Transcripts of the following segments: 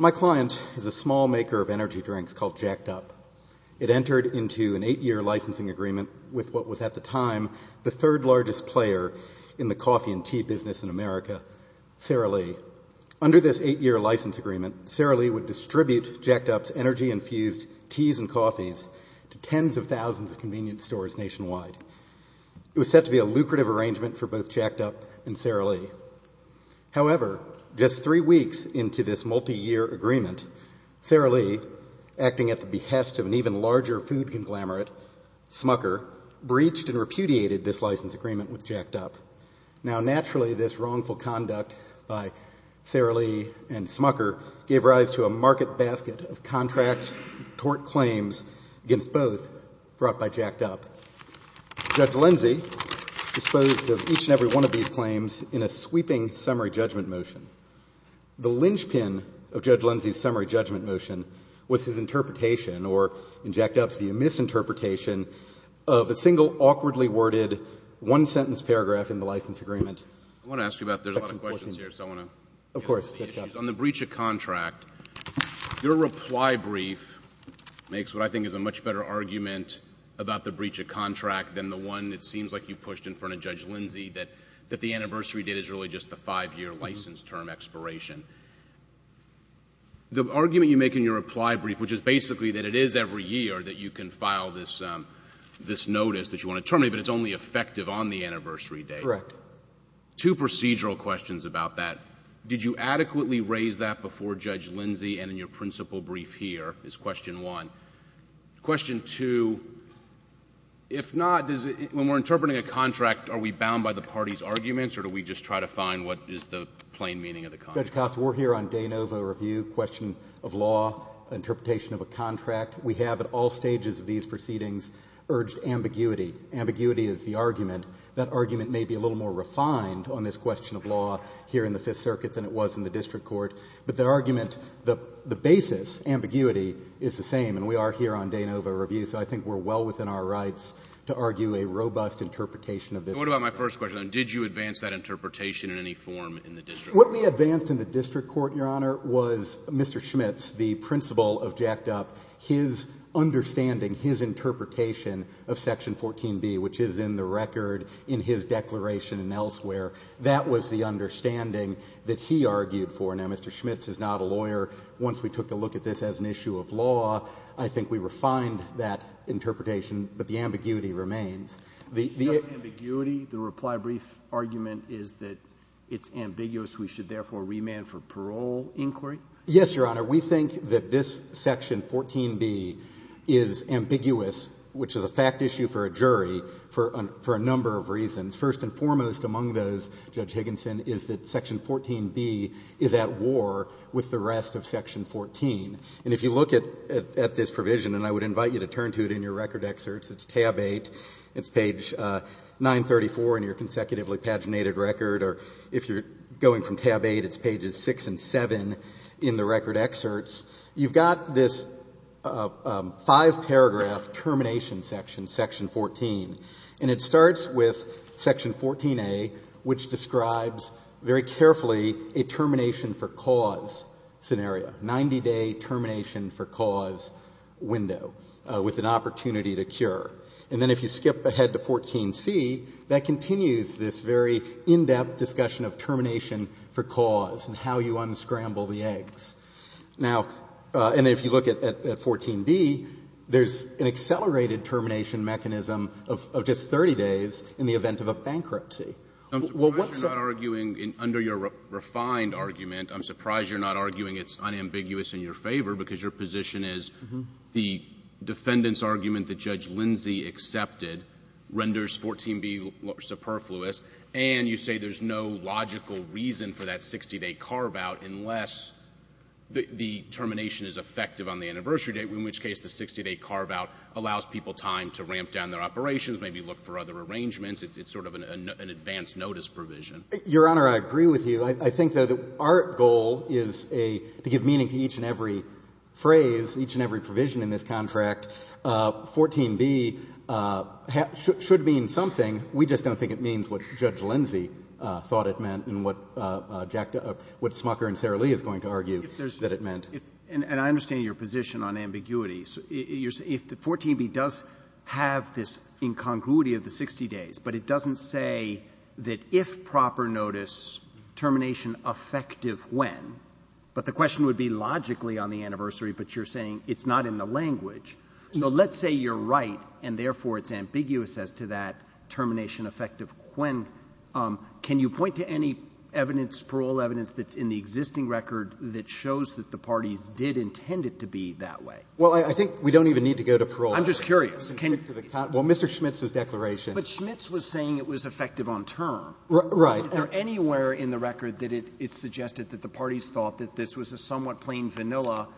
My client is a small maker of energy drinks called Jacked Up. It entered into an eight-year licensing agreement with what was at the time the third largest player in the coffee and tea business in America, Sara Lee. Under this eight-year license agreement, Sara Lee would distribute Jacked Up's energy-infused teas and coffees to tens of thousands of convenience stores nationwide. It was set to be a multi-year agreement. However, just three weeks into this multi-year agreement, Sara Lee, acting at the behest of an even larger food conglomerate, Smucker, breached and repudiated this license agreement with Jacked Up. Now, naturally, this wrongful conduct by Sara Lee and Smucker gave rise to a market basket of contract tort claims against both brought by Jacked Up. Judge Lindsey disposed of each and every one of these claims in a sweeping summary judgment motion. The linchpin of Judge Lindsey's summary judgment motion was his interpretation, or in Jacked Up's view, misinterpretation of a single awkwardly worded one-sentence paragraph in the license agreement. I want to ask you about — there's a lot of questions here, so I want to — Of course. On the breach of contract, your reply brief makes what I think is a much better argument about the breach of contract, because the anniversary date is really just the five-year license term expiration. The argument you make in your reply brief, which is basically that it is every year that you can file this notice that you want to terminate, but it's only effective on the anniversary date. Correct. Two procedural questions about that. Did you adequately raise that before Judge Lindsey? And in your principal brief here is question one. Question two, if not, does it — when we're trying to find what is the plain meaning of the contract? Judge Costa, we're here on de novo review, question of law, interpretation of a contract. We have at all stages of these proceedings urged ambiguity. Ambiguity is the argument. That argument may be a little more refined on this question of law here in the Fifth Circuit than it was in the district court, but the argument — the basis, ambiguity, is the same, and we are here on de novo review, so I think we're well within our rights to argue a robust interpretation of this. So what about my first question? Did you advance that interpretation in any form in the district court? What we advanced in the district court, Your Honor, was Mr. Schmitz, the principal of Jacked Up. His understanding, his interpretation of Section 14b, which is in the record in his declaration and elsewhere, that was the understanding that he argued for. Now, Mr. Schmitz is not a lawyer. Once we took a look at this as an issue of law, I think we refined that interpretation, but the ambiguity remains. It's just ambiguity. The reply brief argument is that it's ambiguous. We should therefore remand for parole inquiry? Yes, Your Honor. We think that this Section 14b is ambiguous, which is a fact issue for a jury, for a number of reasons. First and foremost among those, Judge Higginson, is that Section 14b is at war with the rest of Section 14. And if you look at this provision, and I would invite you to turn to it in your record excerpts, it's tab 8, it's page 934 in your consecutively paginated record, or if you're going from tab 8, it's pages 6 and 7 in the record excerpts. You've got this five-paragraph termination section, Section 14, and it starts with Section 14a, which describes very carefully a termination for cause scenario, 90-day termination for cause window with an opportunity to cure. And then if you skip ahead to 14c, that continues this very in-depth discussion of termination for cause and how you unscramble the eggs. Now, and if you look at 14d, there's an accelerated termination mechanism of just 30 days in the event of a bankruptcy. I'm surprised you're not arguing under your refined argument, I'm surprised you're not arguing it's unambiguous in your favor, because your position is the defendant's argument that Judge Lindsey accepted renders 14b superfluous, and you say there's no logical reason for that 60-day carve-out unless the termination is effective on the anniversary date, in which case the 60-day carve-out allows people time to ramp down their operations, maybe look for other arrangements. It's sort of an advanced notice provision. Your Honor, I agree with you. I think, though, that our goal is to give meaning to each and every phrase, each and every provision in this contract. 14b should mean something. We just don't think it means what Judge Lindsey thought it meant and what Jack, what Smucker and Sarah Lee is going to argue that it meant. And I understand your position on ambiguity. If the 14b does have this incongruity of the 60 days, but it doesn't say that if proper notice, termination effective when, but the question would be logically on the anniversary, but you're saying it's not in the language. So let's say you're right, and therefore it's ambiguous as to that termination effective when. Can you point to any evidence, parole evidence that's in the existing record that shows that the parties did intend it to be that way? Well, I think we don't even need to go to parole. I'm just curious. Well, Mr. Schmitz's declaration. But Schmitz was saying it was effective on term. Right. Is there anywhere in the record that it's suggested that the parties thought that this was a somewhat plain vanilla,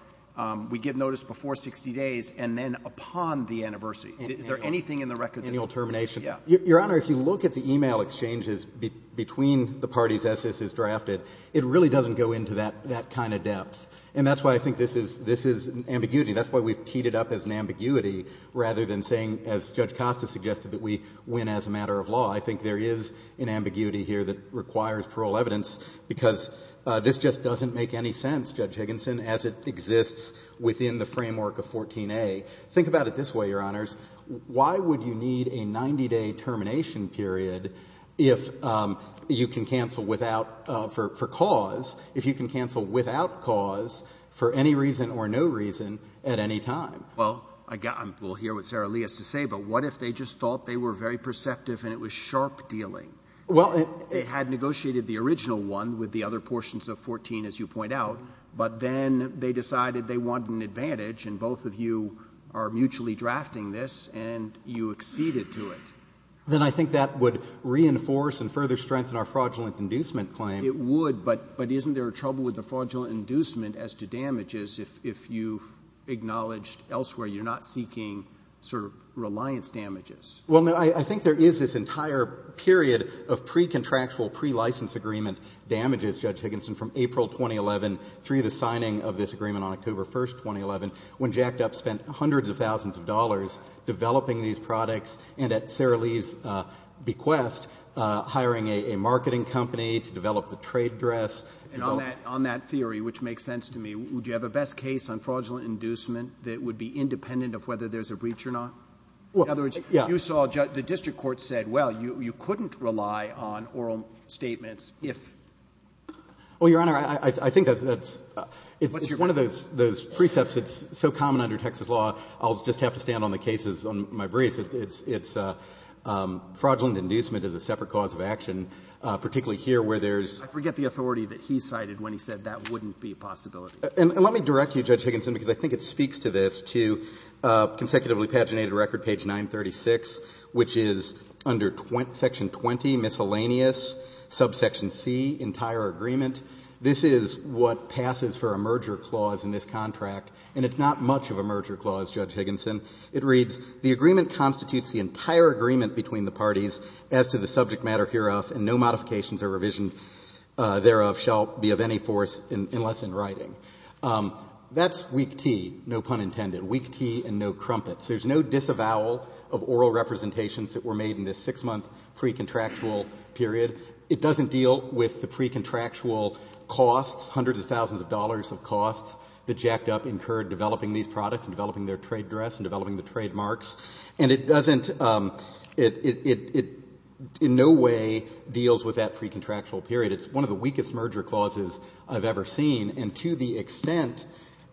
we give notice before 60 days, and then upon the anniversary? Is there anything in the record that indicates that? Annual termination. Your Honor, if you look at the e-mail exchanges between the parties as this is drafted, it really doesn't go into that kind of depth. And that's why I think this is ambiguity. That's why we've teed it up as an ambiguity, rather than saying, as Judge Costa suggested, that we win as a matter of law. I think there is an ambiguity here that requires parole evidence, because this just doesn't make any sense, Judge Higginson, as it exists within the framework of 14a. Think about it this way, Your Honors. Why would you need a 90-day termination period if you can cancel without, for cause, if you can cancel without cause for any reason or no reason at any time? Well, again, we'll hear what Sarah Lee has to say, but what if they just thought they were very perceptive and it was sharp dealing? It had negotiated the original one with the other portions of 14, as you point out, but then they decided they wanted an advantage, and both of you are mutually drafting this, and you acceded to it. Then I think that would reinforce and further strengthen our fraudulent inducement claim. It would, but isn't there a trouble with the fraudulent inducement as to damages if you've acknowledged elsewhere you're not seeking sort of reliance damages? Well, I think there is this entire period of pre-contractual, pre-license agreement damages, Judge Higginson, from April 2011 through the signing of this agreement on October 1st, 2011, when Jack Dup spent hundreds of thousands of dollars developing these products and at Sarah Lee's bequest hiring a marketing company to develop the trade dress. And on that theory, which makes sense to me, would you have a best case on fraudulent inducement that would be independent of whether there's a breach or not? Well, yeah. In other words, you saw the district court said, well, you couldn't rely on oral statements if ---- Well, Your Honor, I think that's one of those precepts that's so common under Texas law, I'll just have to stand on the cases on my brief. It's fraudulent inducement is a separate cause of action, particularly here where there's ---- I forget the authority that he cited when he said that wouldn't be a possibility. And let me direct you, Judge Higginson, because I think it speaks to this, to consecutively paginated record, page 936, which is under section 20, miscellaneous, subsection C, entire agreement. This is what passes for a merger clause in this contract, and it's not much of a merger clause, Judge Higginson. It reads, The agreement constitutes the entire agreement between the parties as to the subject matter hereof, and no modifications or revision thereof shall be of any force unless in writing. That's weak tea, no pun intended, weak tea and no crumpets. There's no disavowal of oral representations that were made in this 6-month pre-contractual period. It doesn't deal with the pre-contractual costs, hundreds of thousands of dollars of costs that jacked up incurred developing these products and developing their trade dress and developing the trademarks. And it doesn't, it in no way deals with that pre-contractual period. It's one of the weakest merger clauses I've ever seen. And to the extent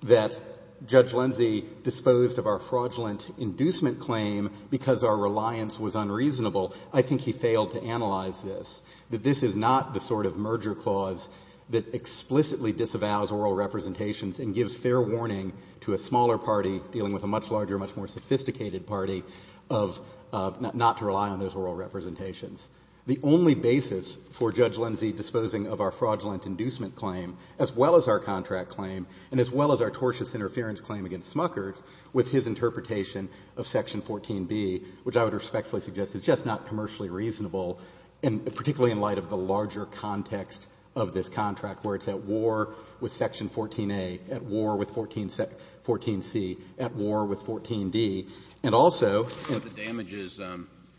that Judge Lindsey disposed of our fraudulent inducement claim because our reliance was unreasonable, I think he failed to analyze this, that this is not the sort of merger clause that explicitly disavows oral representations and gives fair warning to a smaller party dealing with a much larger, much more sophisticated party of not to rely on those oral representations. The only basis for Judge Lindsey disposing of our fraudulent inducement claim, as well as our contract claim, and as well as our tortious interference claim against Smucker, was his interpretation of Section 14b, which I would respectfully suggest is just not commercially reasonable, and particularly in light of the larger context of this contract where it's at war with Section 14a, at war with 14c, at war with 14d, and also — But the damages,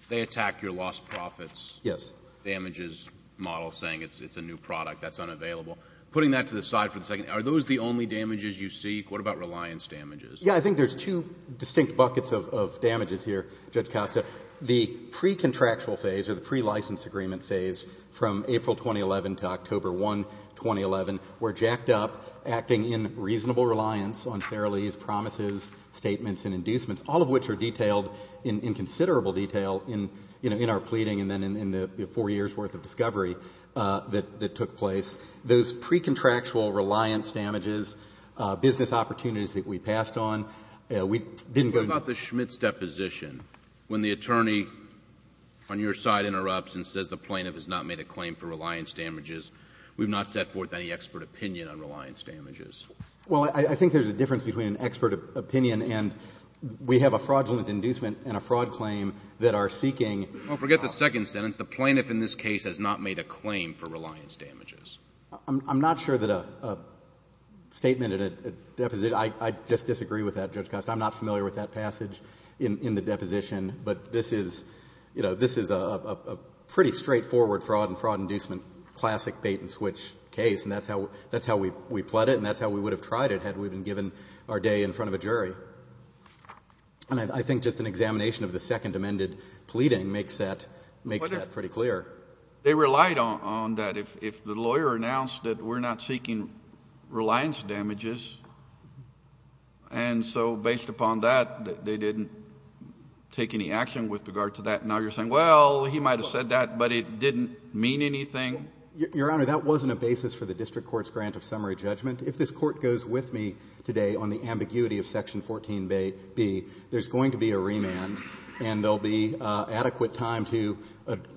they attack your lost profits — Yes. — damages model, saying it's a new product, that's unavailable. Putting that to the side for a second, are those the only damages you seek? What about reliance damages? Yeah. I think there's two distinct buckets of damages here, Judge Costa. The pre-contractual phase, or the pre-license agreement phase, from April 2011 to October 1, 2011, were jacked up, acting in reasonable reliance on Farrelly's promises, statements, and inducements, all of which are detailed in considerable detail in our pleading and then in the four years' worth of discovery that took place. Those pre-contractual reliance damages, business opportunities that we passed on, we didn't go — What about the Schmitt's deposition? When the attorney on your side interrupts and says the plaintiff has not made a claim for reliance damages, we've not set forth any expert opinion on reliance damages. Well, I think there's a difference between an expert opinion and we have a fraudulent inducement and a fraud claim that are seeking — Well, forget the second sentence. The plaintiff in this case has not made a claim for reliance damages. I'm not sure that a statement at a — I just disagree with that, Judge Costa. I'm not familiar with that passage in the deposition. But this is a pretty straightforward fraud and fraud inducement, classic bait-and-switch case, and that's how we pled it and that's how we would have tried it had we been given our day in front of a jury. And I think just an examination of the second amended pleading makes that pretty clear. But they relied on that. If the lawyer announced that we're not seeking reliance damages, and so based upon that, they didn't take any action with regard to that, now you're saying, well, he might have said that, but it didn't mean anything? Your Honor, that wasn't a basis for the district court's grant of summary judgment. If this Court goes with me today on the ambiguity of Section 14b, there's going to be a remand and there'll be adequate time to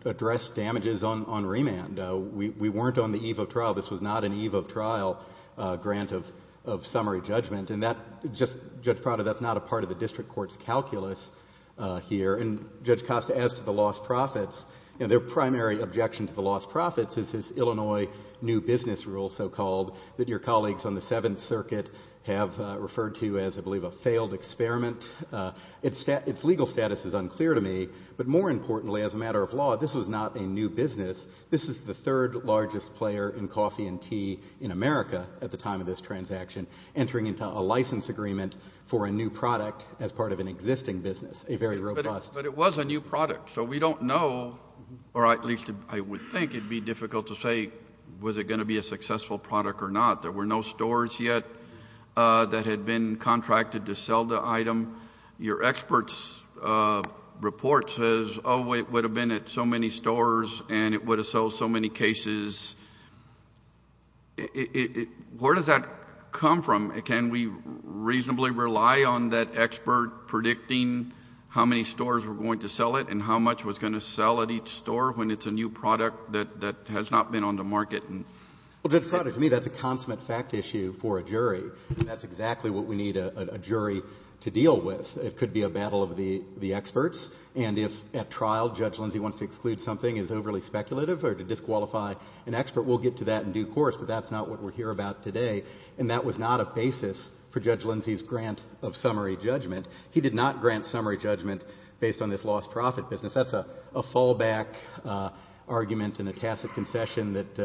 address damages on remand. We weren't on the eve of trial. This was not an eve of trial grant of summary judgment. And that just — Judge Prado, that's not a part of the district court's calculus here. And Judge Costa, as to the lost profits, their primary objection to the lost profits is this Illinois new business rule, so-called, that your colleagues on the Seventh Circuit have referred to as, I believe, a failed experiment. Its legal status is unclear to me. But more importantly, as a matter of law, this was not a new business. This is the third largest player in coffee and tea in America at the time of this transaction, entering into a license agreement for a new product as part of an existing business, a very robust — was it going to be a successful product or not? There were no stores yet that had been contracted to sell the item. Your expert's report says, oh, it would have been at so many stores and it would have sold so many cases. Where does that come from? Can we reasonably rely on that expert predicting how many stores were going to sell it and how much was going to sell at each store when it's a new product that has not been on the market? Well, Judge Frader, to me, that's a consummate fact issue for a jury. That's exactly what we need a jury to deal with. It could be a battle of the experts. And if at trial Judge Lindsay wants to exclude something as overly speculative or to disqualify an expert, we'll get to that in due course. But that's not what we're here about today. And that was not a basis for Judge Lindsay's grant of summary judgment. He did not grant summary judgment based on this lost profit business. That's a fallback argument and a tacit concession that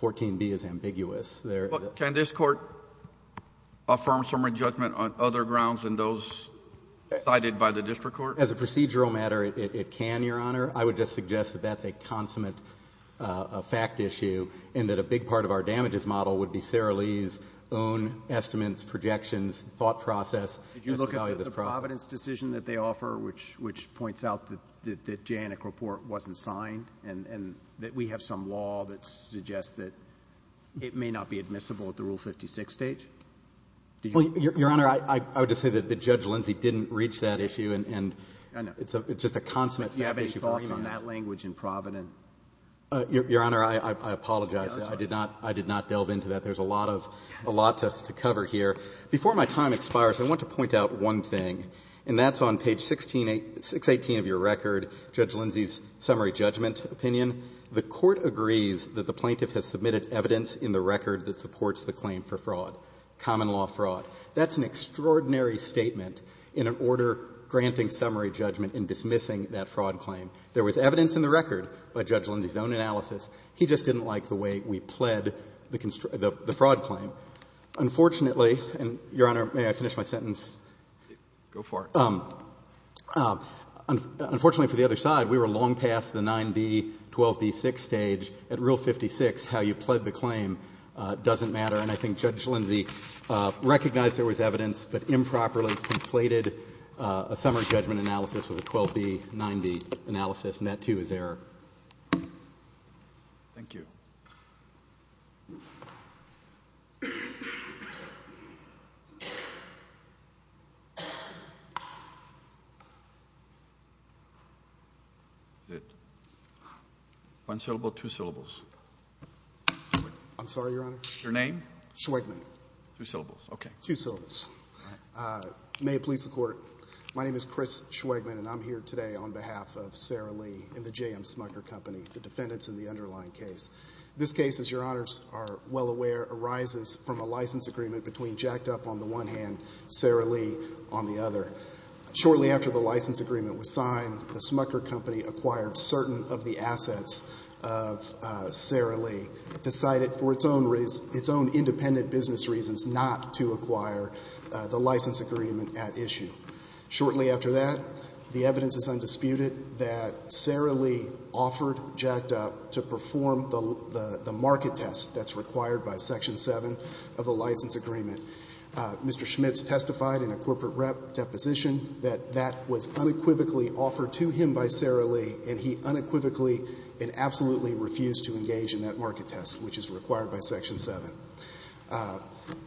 14b is ambiguous. Can this court affirm summary judgment on other grounds than those cited by the district court? As a procedural matter, it can, Your Honor. I would just suggest that that's a consummate fact issue and that a big part of our damages model would be Sarah Lee's own estimates, projections, thought process. Did you look at the Providence decision that they offer, which points out that the Janik report wasn't signed and that we have some law that suggests that it may not be admissible at the Rule 56 stage? Well, Your Honor, I would just say that Judge Lindsay didn't reach that issue. And it's just a consummate fact issue for him. Do you have any thoughts on that language in Providence? Your Honor, I apologize. I did not delve into that. There's a lot to cover here. Before my time expires, I want to point out one thing, and that's on page 618 of your record, Judge Lindsay's summary judgment opinion. The court agrees that the plaintiff has submitted evidence in the record that supports the claim for fraud, common law fraud. That's an extraordinary statement in an order granting summary judgment and dismissing that fraud claim. There was evidence in the record by Judge Lindsay's own analysis. He just didn't like the way we pled the fraud claim. So, unfortunately, and Your Honor, may I finish my sentence? Go for it. Unfortunately, for the other side, we were long past the 9B, 12B, 6 stage. At Rule 56, how you pled the claim doesn't matter. And I think Judge Lindsay recognized there was evidence but improperly conflated a summary judgment analysis with a 12B, 9B analysis, and that, too, is error. Thank you. One syllable, two syllables. I'm sorry, Your Honor? Your name? Schweigman. Two syllables. Okay. Two syllables. All right. May it please the Court. My name is Chris Schweigman, and I'm here today on behalf of Sarah Lee and the J.M. Smucker Company, the defendants in the underlying case. This case, as Your Honors are well aware, arises from a license agreement between Jacked Up on the one hand, Sarah Lee on the other. Shortly after the license agreement was signed, the Smucker Company acquired certain of the assets of Sarah Lee, decided for its own independent business reasons not to acquire the license agreement at issue. Shortly after that, the evidence is undisputed that Sarah Lee offered Jacked Up to perform the market test that's required by Section 7 of the license agreement. Mr. Schmitz testified in a corporate rep deposition that that was unequivocally offered to him by Sarah Lee, and he unequivocally and absolutely refused to engage in that market test, which is required by Section 7.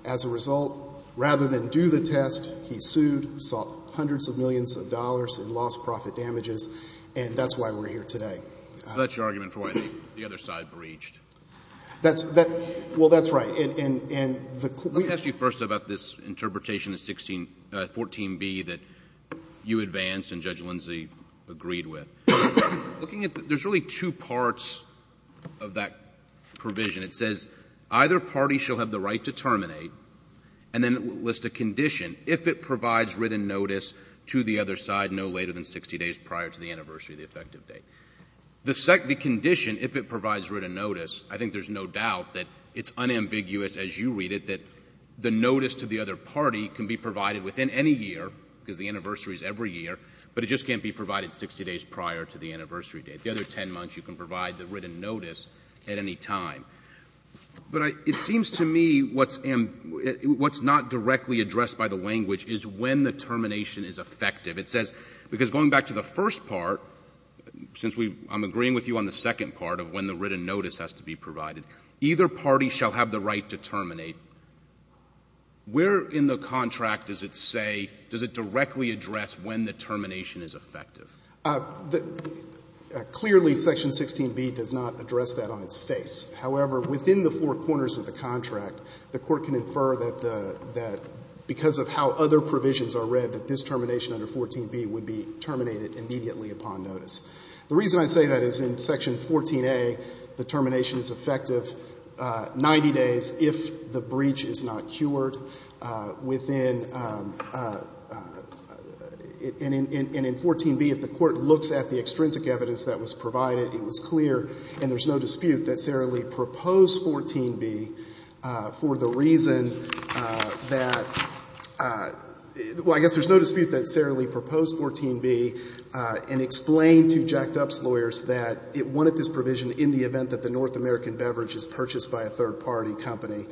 As a result, rather than do the test, he sued, sought hundreds of millions of dollars in lost profit damages, and that's why we're here today. So that's your argument for why the other side breached? That's — well, that's right. Let me ask you first about this interpretation of 16 — 14b that you advanced and Judge Lindsay agreed with. Looking at — there's really two parts of that provision. It says either party shall have the right to terminate, and then it lists a condition if it provides written notice to the other side no later than 60 days prior to the anniversary of the effective date. The condition, if it provides written notice, I think there's no doubt that it's unambiguous, as you read it, that the notice to the other party can be provided within any year, because the anniversary is every year, but it just can't be provided 60 days prior to the anniversary date. The other 10 months, you can provide the written notice at any time. But it seems to me what's not directly addressed by the language is when the termination is effective. It says, because going back to the first part, since we — I'm agreeing with you on the second part of when the written notice has to be provided, either party shall have the right to terminate. Where in the contract does it say — does it directly address when the termination is effective? Clearly, Section 16b does not address that on its face. However, within the four corners of the contract, the Court can infer that the — that because of how other provisions are read, that this termination under 14b would be terminated immediately upon notice. The reason I say that is in Section 14a, the termination is effective 90 days if the breach is not cured. Within — and in 14b, if the Court looks at the extrinsic evidence that was provided, it was clear, and there's no dispute, that Sara Lee proposed 14b for the reason that — well, I guess there's no dispute that Sara Lee proposed 14b and explained to Jack Dup's lawyers that it wanted this provision in the event that the North American beverage is purchased by a third-party company,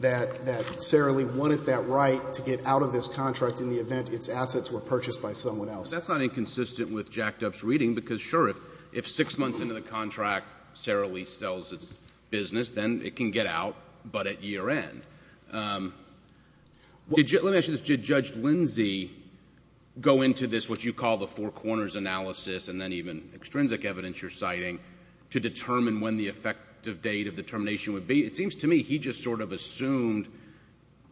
that Sara Lee wanted that right to get out of this contract in the event its assets were purchased by someone else. That's not inconsistent with Jack Dup's reading because, sure, if six months into the contract, Sara Lee sells its business, then it can get out, but at year end. Let me ask you this. Did Judge Lindsey go into this, what you call the four corners analysis and then even extrinsic evidence you're citing, to determine when the effective date of the termination would be? It seems to me he just sort of assumed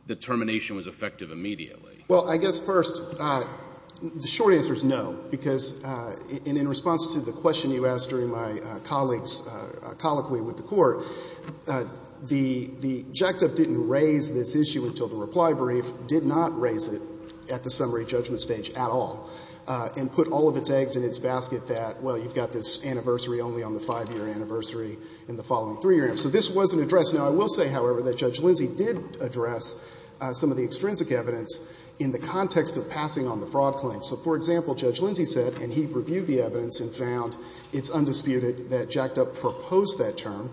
the termination was effective immediately. Well, I guess, first, the short answer is no because in response to the question you asked during my colleagues' colloquy with the Court, the — Jack Dup didn't raise this issue until the reply brief, did not raise it at the summary judgment stage at all, and put all of its eggs in its basket that, well, you've got this anniversary only on the five-year anniversary and the following three-year anniversary. So this wasn't addressed. Now, I will say, however, that Judge Lindsey did address some of the extrinsic evidence in the context of passing on the fraud claim. So, for example, Judge Lindsey said, and he reviewed the evidence and found it's undisputed that Jack Dup proposed that term.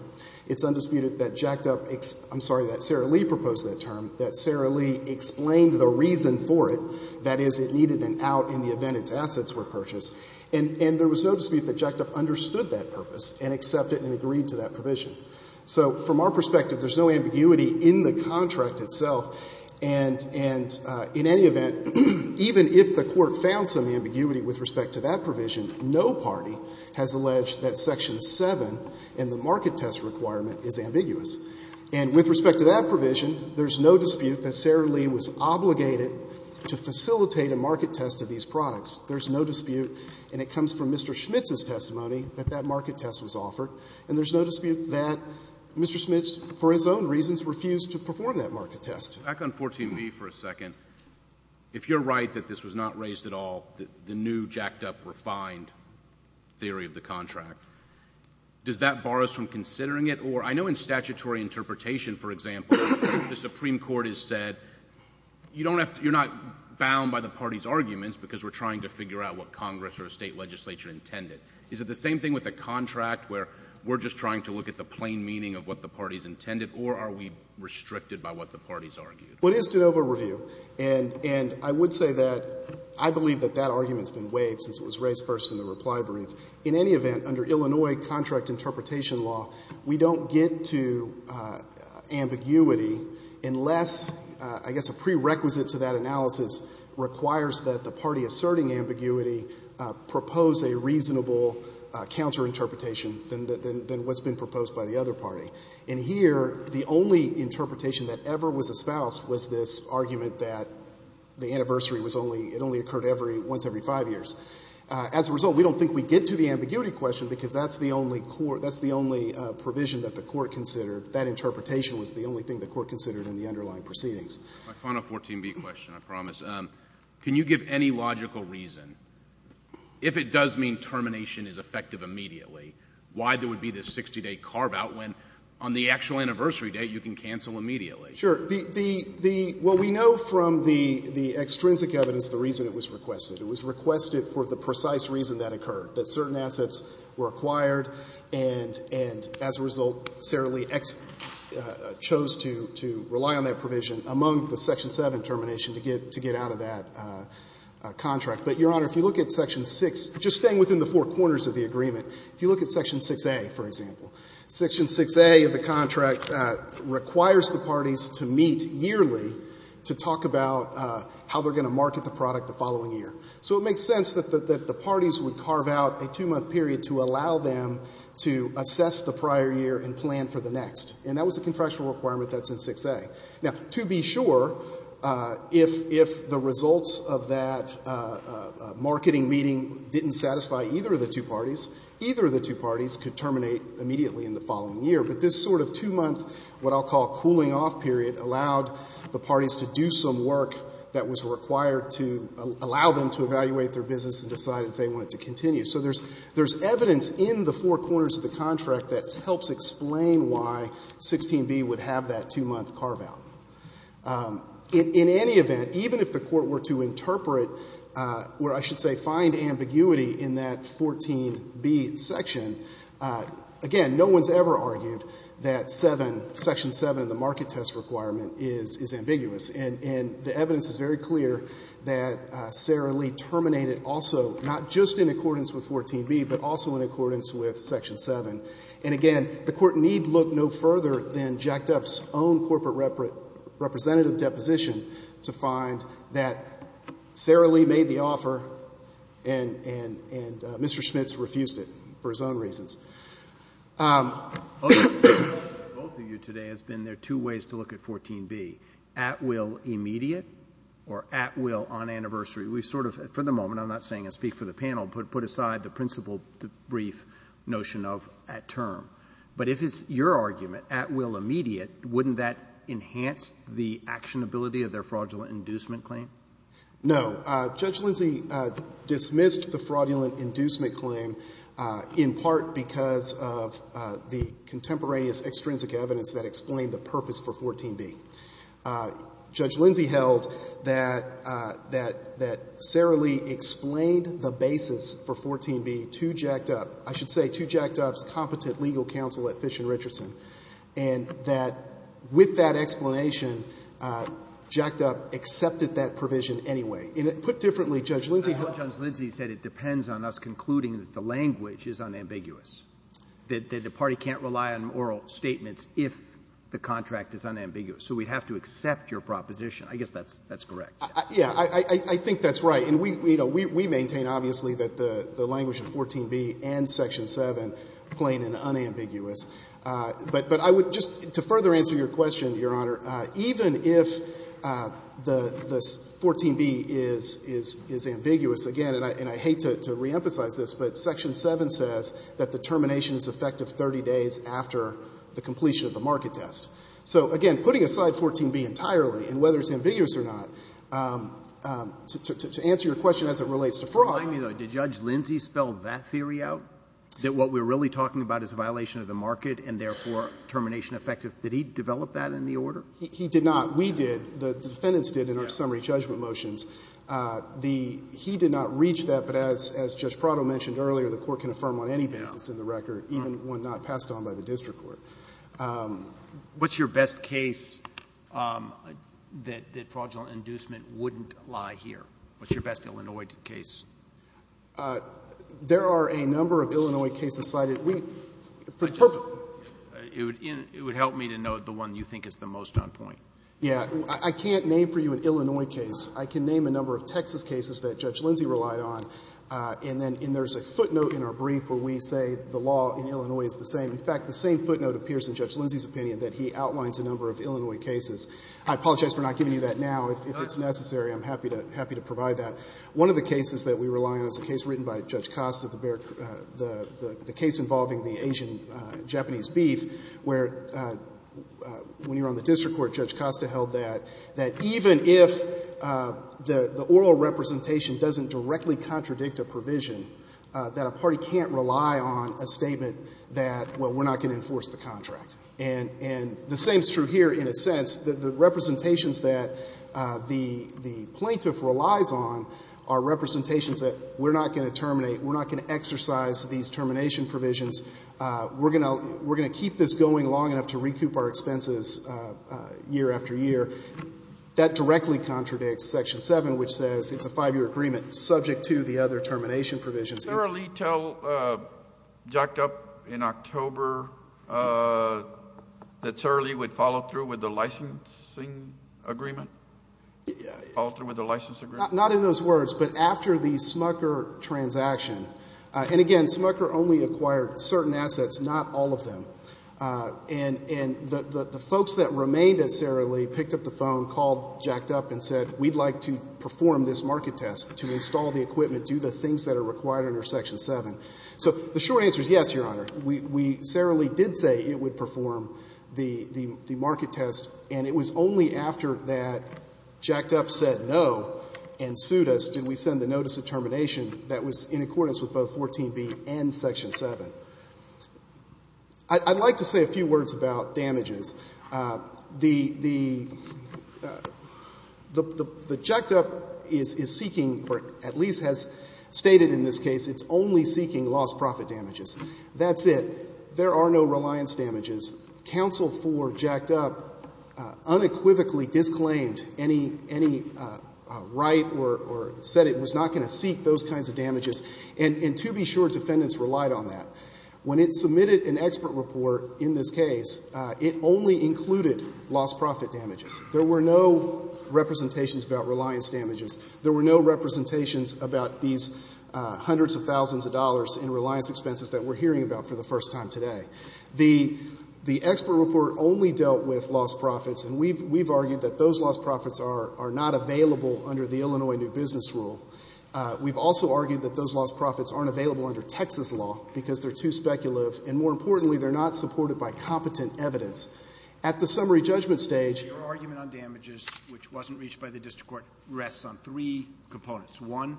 It's undisputed that Jack Dup — I'm sorry, that Sarah Lee proposed that term, that Sarah Lee explained the reason for it, that is, it needed an out in the event its assets were purchased. And there was no dispute that Jack Dup understood that purpose and accepted and agreed to that provision. So from our perspective, there's no ambiguity in the contract itself. And in any event, even if the Court found some ambiguity with respect to that provision, no party has alleged that Section 7 in the market test requirement is ambiguous. And with respect to that provision, there's no dispute that Sarah Lee was obligated to facilitate a market test of these products. There's no dispute, and it comes from Mr. Schmitz's testimony, that that market test was offered. And there's no dispute that Mr. Schmitz, for his own reasons, refused to perform that market test. Back on 14b for a second. If you're right that this was not raised at all, the new, jacked-up, refined theory of the contract, does that bar us from considering it? Or I know in statutory interpretation, for example, the Supreme Court has said, you don't have to — you're not bound by the party's arguments because we're trying to figure out what Congress or a state legislature intended. Is it the same thing with a contract where we're just trying to look at the plain meaning of what the party's intended, or are we restricted by what the party's argued? What is de novo review? And I would say that I believe that that argument's been waived since it was raised first in the reply brief. In any event, under Illinois contract interpretation law, we don't get to ambiguity unless, I guess, a prerequisite to that analysis requires that the party asserting ambiguity propose a reasonable counterinterpretation than what's been proposed by the other party. And here, the only interpretation that ever was espoused was this argument that the anniversary was only — it only occurred every — once every five years. As a result, we don't think we get to the ambiguity question because that's the only court — that's the only provision that the court considered. That interpretation was the only thing the court considered in the underlying proceedings. My final 14B question, I promise. Can you give any logical reason, if it does mean termination is effective immediately, why there would be this 60-day carve-out when, on the actual anniversary date, you can cancel immediately? Sure. The — well, we know from the extrinsic evidence the reason it was requested. It was requested for the precise reason that occurred, that certain assets were acquired and, as a result, Sarah Lee chose to rely on that provision among the Section 7 termination to get out of that contract. But, Your Honor, if you look at Section 6, just staying within the four corners of the room, if you look at Section 6A, for example, Section 6A of the contract requires the parties to meet yearly to talk about how they're going to market the product the following year. So it makes sense that the parties would carve out a two-month period to allow them to assess the prior year and plan for the next. And that was a contractual requirement that's in 6A. Now, to be sure, if the results of that marketing meeting didn't satisfy either of the two parties, either of the two parties could terminate immediately in the following year. But this sort of two-month what I'll call cooling-off period allowed the parties to do some work that was required to allow them to evaluate their business and decide if they wanted to continue. So there's evidence in the four corners of the contract that helps explain why 16B would have that two-month carve-out. In any event, even if the Court were to interpret, or I should say find ambiguity in that 14B section, again, no one's ever argued that Section 7 of the market test requirement is ambiguous. And the evidence is very clear that Sarah Lee terminated also not just in accordance with 14B, but also in accordance with Section 7. And again, the Court need look no further than Jack Duff's own corporate representative deposition to find that Sarah Lee made the offer and Mr. Schmitz refused it for his own reasons. Both of you today has been there two ways to look at 14B, at will immediate or at will on anniversary. We sort of, for the moment, I'm not saying I speak for the panel, put aside the principle brief notion of at term. But if it's your argument, at will immediate, wouldn't that enhance the actionability of their fraudulent inducement claim? No. Judge Lindsey dismissed the fraudulent inducement claim in part because of the contemporaneous extrinsic evidence that explained the purpose for 14B. Judge Lindsey held that Sarah Lee explained the basis for 14B to Jack Duff. I should say to Jack Duff's competent legal counsel at Fish and Richardson, and that with that explanation, Jack Duff accepted that provision anyway. Put differently, Judge Lindsey held that. I thought Judge Lindsey said it depends on us concluding that the language is unambiguous, that the party can't rely on oral statements if the contract is unambiguous. So we'd have to accept your proposition. I guess that's correct. Yeah. I think that's right. And we maintain, obviously, that the language in 14B and Section 7 plain and unambiguous. But I would just, to further answer your question, Your Honor, even if the 14B is ambiguous again, and I hate to reemphasize this, but Section 7 says that the termination is effective 30 days after the completion of the market test. So, again, putting aside 14B entirely and whether it's ambiguous or not, to answer your question as it relates to fraud. Remind me, though, did Judge Lindsey spell that theory out, that what we're really talking about is a violation of the market and, therefore, termination effective? Did he develop that in the order? He did not. We did. The defendants did in our summary judgment motions. He did not reach that. But as Judge Prado mentioned earlier, the Court can affirm on any basis in the record, even one not passed on by the district court. What's your best case that fraudulent inducement wouldn't lie here? What's your best Illinois case? There are a number of Illinois cases cited. It would help me to know the one you think is the most on point. Yeah. I can't name for you an Illinois case. I can name a number of Texas cases that Judge Lindsey relied on, and then there's a footnote in our brief where we say the law in Illinois is the same. In fact, the same footnote appears in Judge Lindsey's opinion, that he outlines a number of Illinois cases. I apologize for not giving you that now. If it's necessary, I'm happy to provide that. One of the cases that we rely on is a case written by Judge Costa, the case involving the Asian-Japanese beef, where when you're on the district court, Judge Costa held that even if the oral representation doesn't directly contradict a provision, that a party can't rely on a statement that, well, we're not going to enforce the contract. And the same is true here in a sense. The representations that the plaintiff relies on are representations that we're not going to terminate, we're not going to exercise these termination provisions, we're going to keep this going long enough to recoup our expenses year after year. That directly contradicts Section 7, which says it's a 5-year agreement subject to the other termination provisions. Did Sarah Lee tell Jacked Up in October that Sarah Lee would follow through with the licensing agreement? Not in those words, but after the Smucker transaction. And again, Smucker only acquired certain assets, not all of them. And the folks that remained at Sarah Lee picked up the phone, called Jacked Up and said, we'd like to perform this market test to install the equipment, do the things that are required under Section 7. So the short answer is yes, Your Honor. We, Sarah Lee did say it would perform the market test, and it was only after that Jacked Up said no and sued us did we send the notice of termination that was in accordance with both 14b and Section 7. I'd like to say a few words about damages. The Jacked Up is seeking, or at least has stated in this case, it's only seeking lost profit damages. That's it. There are no reliance damages. Counsel for Jacked Up unequivocally disclaimed any right or said it was not going to seek those kinds of damages. And to be sure, defendants relied on that. When it submitted an expert report in this case, it only included lost profit damages. There were no representations about reliance damages. There were no representations about these hundreds of thousands of dollars in reliance expenses that we're hearing about for the first time today. The expert report only dealt with lost profits, and we've argued that those lost profits are not available under the Illinois New Business Rule. We've also argued that those lost profits aren't available under Texas law because they're too speculative, and more importantly, they're not supported by competent evidence. At the summary judgment stage, your argument on damages, which wasn't reached by the district court, rests on three components. One,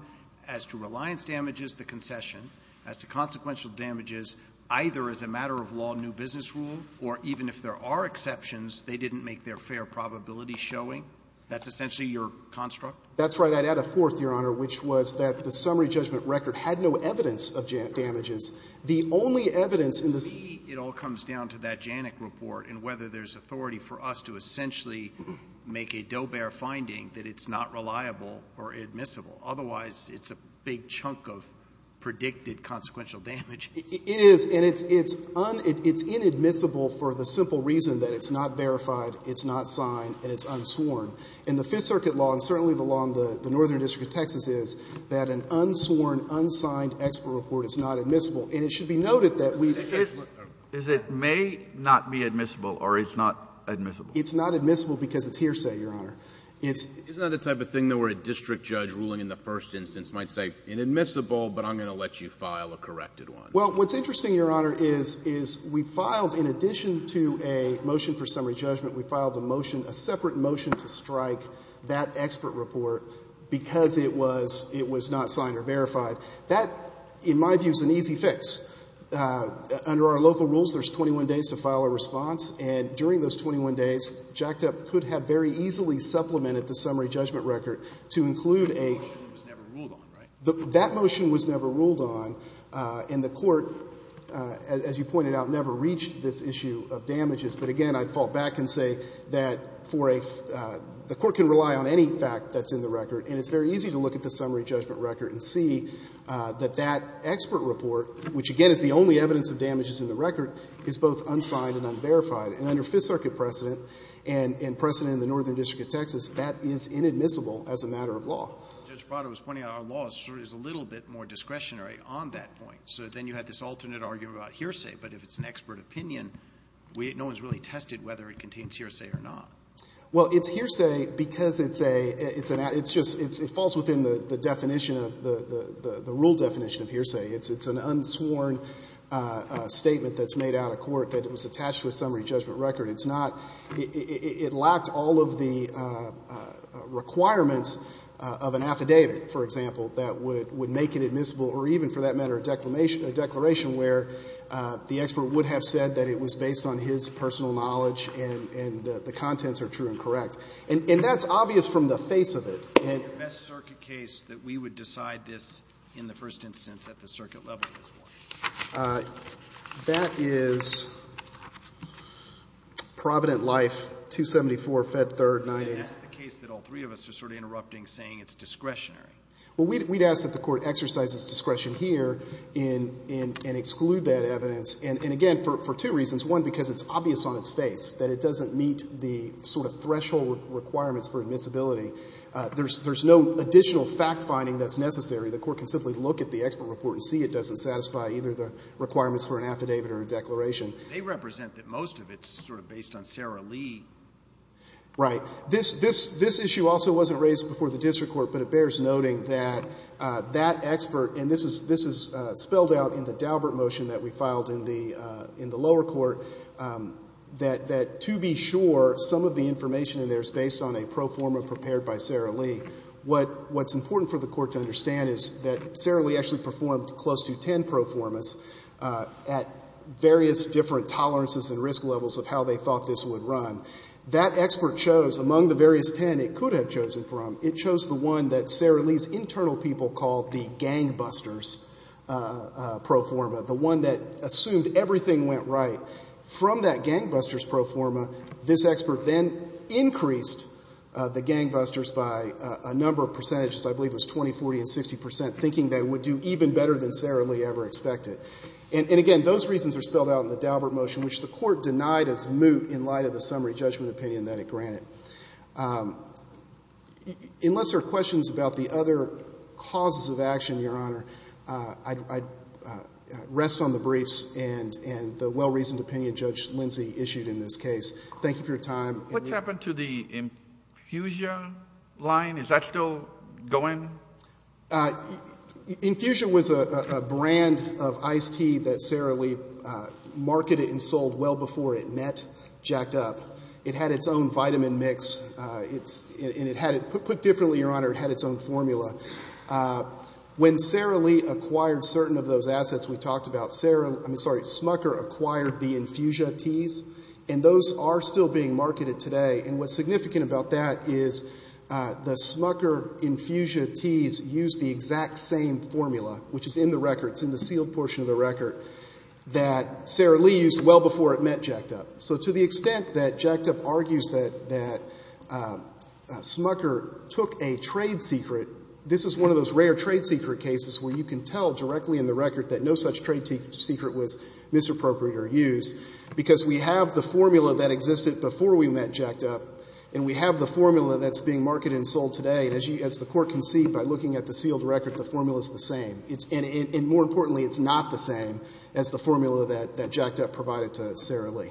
as to reliance damages, the concession. As to consequential damages, either as a matter of law, new business rule, or even if there are exceptions, they didn't make their fair probability showing. That's essentially your construct? That's right. I'd add a fourth, Your Honor, which was that the summary judgment record had no evidence of damages. The only evidence in this — To me, it all comes down to that JANIC report and whether there's authority for us to essentially make a do-bear finding that it's not reliable or admissible. Otherwise, it's a big chunk of predicted consequential damage. It is, and it's un — it's inadmissible for the simple reason that it's not verified, it's not signed, and it's unsworn. And the Fifth Circuit law, and certainly the law in the Northern District of Texas, is that an unsworn, unsigned expert report is not admissible. And it should be noted that we've — Is it may not be admissible or it's not admissible? It's not admissible because it's hearsay, Your Honor. It's — Isn't that the type of thing where a district judge ruling in the first instance might say, inadmissible, but I'm going to let you file a corrected one? Well, what's interesting, Your Honor, is we filed, in addition to a motion for summary strike, that expert report because it was — it was not signed or verified. That, in my view, is an easy fix. Under our local rules, there's 21 days to file a response, and during those 21 days, JACTA could have very easily supplemented the summary judgment record to include a — That motion was never ruled on, right? That motion was never ruled on, and the court, as you pointed out, never reached this issue of damages. But again, I'd fall back and say that for a — the court can rely on any fact that's in the record, and it's very easy to look at the summary judgment record and see that that expert report, which, again, is the only evidence of damages in the record, is both unsigned and unverified. And under Fifth Circuit precedent and precedent in the Northern District of Texas, that is inadmissible as a matter of law. Judge Prado was pointing out our law is a little bit more discretionary on that point. So then you have this alternate argument about hearsay. But if it's an expert opinion, no one's really tested whether it contains hearsay or not. Well, it's hearsay because it's a — it's just — it falls within the definition of — the rule definition of hearsay. It's an unsworn statement that's made out of court that it was attached to a summary judgment record. It's not — it lacked all of the requirements of an affidavit, for example, that would make it admissible or even, for that matter, a declaration where the expert would have said that it was based on his personal knowledge and the contents are true and correct. And that's obvious from the face of it. And the best circuit case that we would decide this in the first instance at the circuit level is what? That is Provident Life, 274, Fed Third, 980. And that's the case that all three of us are sort of interrupting saying it's discretionary. Well, we'd ask that the Court exercise its discretion here and exclude that evidence. And, again, for two reasons. One, because it's obvious on its face that it doesn't meet the sort of threshold requirements for admissibility. There's no additional fact-finding that's necessary. The Court can simply look at the expert report and see it doesn't satisfy either the requirements for an affidavit or a declaration. They represent that most of it's sort of based on Sarah Lee. Right. Now, this issue also wasn't raised before the district court, but it bears noting that that expert, and this is spelled out in the Daubert motion that we filed in the lower court, that to be sure some of the information in there is based on a pro forma prepared by Sarah Lee. What's important for the Court to understand is that Sarah Lee actually performed close to ten pro formas at various different tolerances and risk levels of how they thought this would run. That expert chose among the various ten it could have chosen from, it chose the one that Sarah Lee's internal people called the gangbusters pro forma, the one that assumed everything went right. From that gangbusters pro forma, this expert then increased the gangbusters by a number of percentages. I believe it was 20, 40, and 60 percent, thinking they would do even better than Sarah Lee ever expected. And, again, those reasons are spelled out in the Daubert motion, which the Court denied as moot in light of the summary judgment opinion that it granted. Unless there are questions about the other causes of action, Your Honor, I'd rest on the briefs and the well-reasoned opinion Judge Lindsey issued in this case. Thank you for your time. What's happened to the Infusion line? Is that still going? Infusion was a brand of iced tea that Sarah Lee marketed and sold well before it met Jacked Up. It had its own vitamin mix. Put differently, Your Honor, it had its own formula. When Sarah Lee acquired certain of those assets we talked about, Smucker acquired the Infusion teas, and those are still being marketed today. And what's significant about that is the Smucker Infusion teas use the exact same formula, which is in the record, it's in the sealed portion of the record, that Sarah Lee used well before it met Jacked Up. So to the extent that Jacked Up argues that Smucker took a trade secret, this is one of those rare trade secret cases where you can tell directly in the record because we have the formula that existed before we met Jacked Up, and we have the formula that's being marketed and sold today. And as the Court can see by looking at the sealed record, the formula is the same. And more importantly, it's not the same as the formula that Jacked Up provided to Sarah Lee.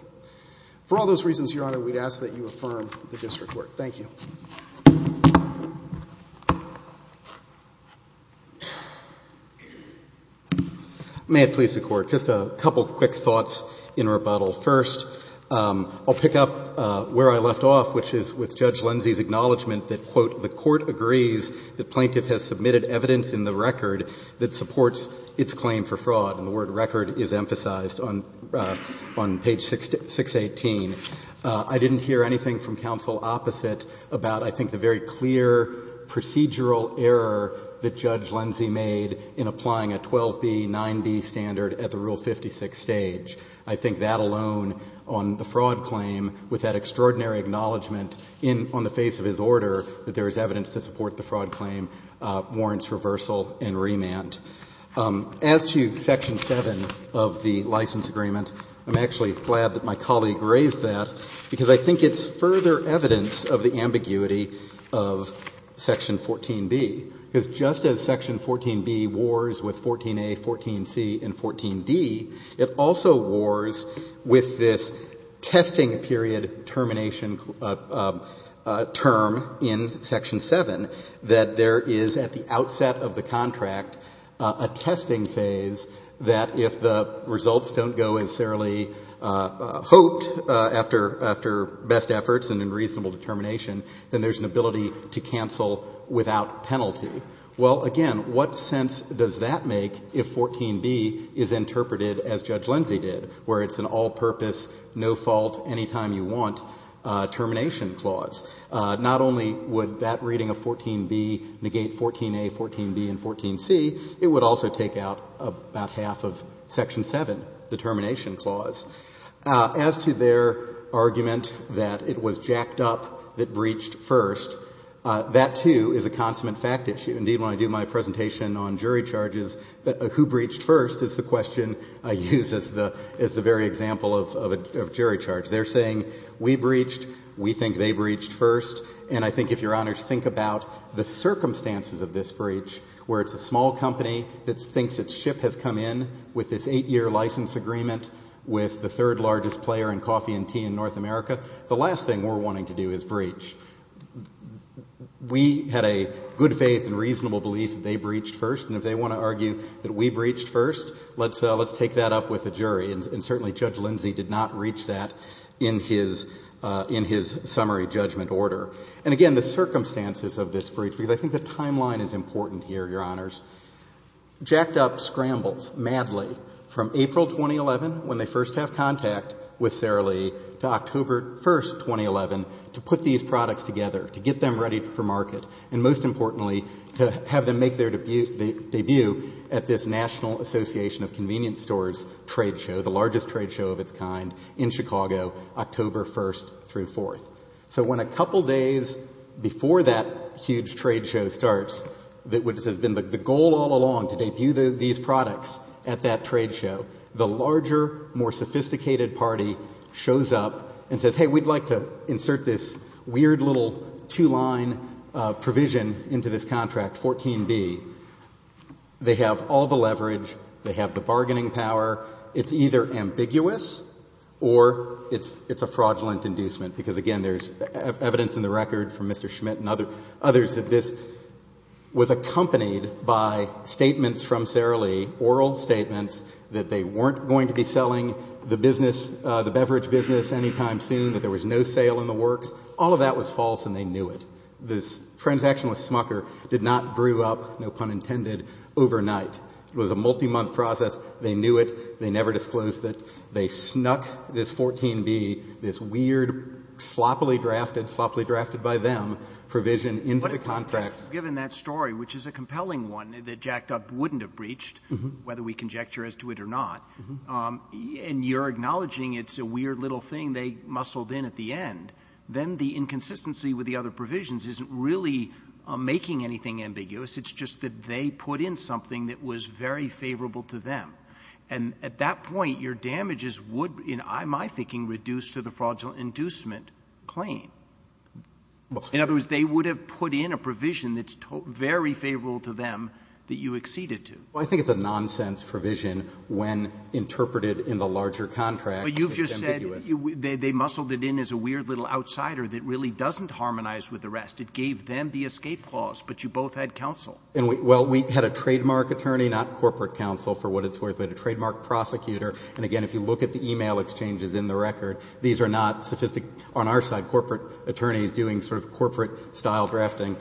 For all those reasons, Your Honor, we'd ask that you affirm the district court. Thank you. May it please the Court. Just a couple quick thoughts in rebuttal. First, I'll pick up where I left off, which is with Judge Lindsey's acknowledgment that, quote, the Court agrees that plaintiff has submitted evidence in the record that supports its claim for fraud. And the word record is emphasized on page 618. I didn't hear anything from counsel opposite about, I think, the very clear procedural error that Judge Lindsey made in applying a 12B, 9B standard at the Rule 56 stage. I think that alone on the fraud claim, with that extraordinary acknowledgement on the face of his order that there is evidence to support the fraud claim, warrants reversal and remand. As to Section 7 of the license agreement, I'm actually glad that my colleague raised that because I think it's further evidence of the ambiguity of Section 14B. Because just as Section 14B wars with 14A, 14C, and 14D, it also wars with this testing period termination term in Section 7, that there is at the outset of the contract a testing phase that if the results don't go as thoroughly hoped after best efforts and in reasonable determination, then there's an ability to cancel without penalty. Well, again, what sense does that make if 14B is interpreted as Judge Lindsey did, where it's an all-purpose, no-fault, anytime-you-want termination clause? Not only would that reading of 14B negate 14A, 14B, and 14C, it would also take out about half of Section 7, the termination clause. As to their argument that it was jacked up that breached first, that, too, is a consummate fact issue. Indeed, when I do my presentation on jury charges, who breached first is the question I use as the very example of a jury charge. They're saying we breached, we think they breached first, and I think if Your Honors think about the circumstances of this breach, where it's a small company that thinks its ship has come in with this eight-year license agreement with the third-largest player in coffee and tea in North America, the last thing we're wanting to do is breach. We had a good faith and reasonable belief that they breached first, and if they want to argue that we breached first, let's take that up with the jury. And certainly Judge Lindsey did not reach that in his summary judgment order. And again, the circumstances of this breach, because I think the timeline is important here, Your Honors, jacked up scrambles madly from April 2011, when they first have contact with Sara Lee, to October 1, 2011, to put these products together, to get them ready for market, and most importantly, to have them make their debut at this National Association of Convenience Stores trade show, the largest trade show of its kind in Chicago, October 1 through 4. So when a couple days before that huge trade show starts, which has been the goal all along, to debut these products at that trade show, the larger, more sophisticated party shows up and says, hey, we'd like to insert this weird little two-line provision into this contract, 14B. They have all the leverage. They have the bargaining power. It's either ambiguous or it's a fraudulent inducement, because again, there's evidence in the record from Mr. Schmidt and others that this was accompanied by statements from Sara Lee, oral statements, that they weren't going to be selling the beverage business anytime soon, that there was no sale in the works. All of that was false and they knew it. This transaction with Smucker did not brew up, no pun intended, overnight. It was a multi-month process. They knew it. They never disclosed it. They snuck this 14B, this weird, sloppily drafted, sloppily drafted by them, provision into the contract. Roberts. Given that story, which is a compelling one that Jack Dup wouldn't have breached, whether we conjecture as to it or not, and you're acknowledging it's a weird little thing they muscled in at the end, then the inconsistency with the other provisions isn't really making anything ambiguous. It's just that they put in something that was very favorable to them. And at that point, your damages would, in my thinking, reduce to the fraudulent inducement claim. In other words, they would have put in a provision that's very favorable to them that you acceded to. Well, I think it's a nonsense provision when interpreted in the larger contract. But you've just said they muscled it in as a weird little outsider that really doesn't harmonize with the rest. It gave them the escape clause, but you both had counsel. And, well, we had a trademark attorney, not corporate counsel, for what it's worth, but a trademark prosecutor. And, again, if you look at the e-mail exchanges in the record, these are not sophisticated – on our side, corporate attorneys doing sort of corporate-style drafting.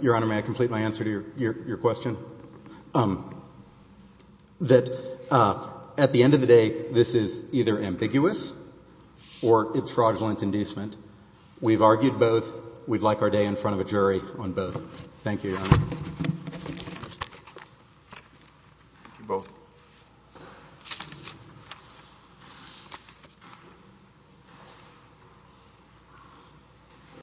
Your Honor, may I complete my answer to your question? That at the end of the day, this is either ambiguous or it's fraudulent inducement. We've argued both. We'd like our day in front of a jury on both. Thank you, Your Honor. Thank you both.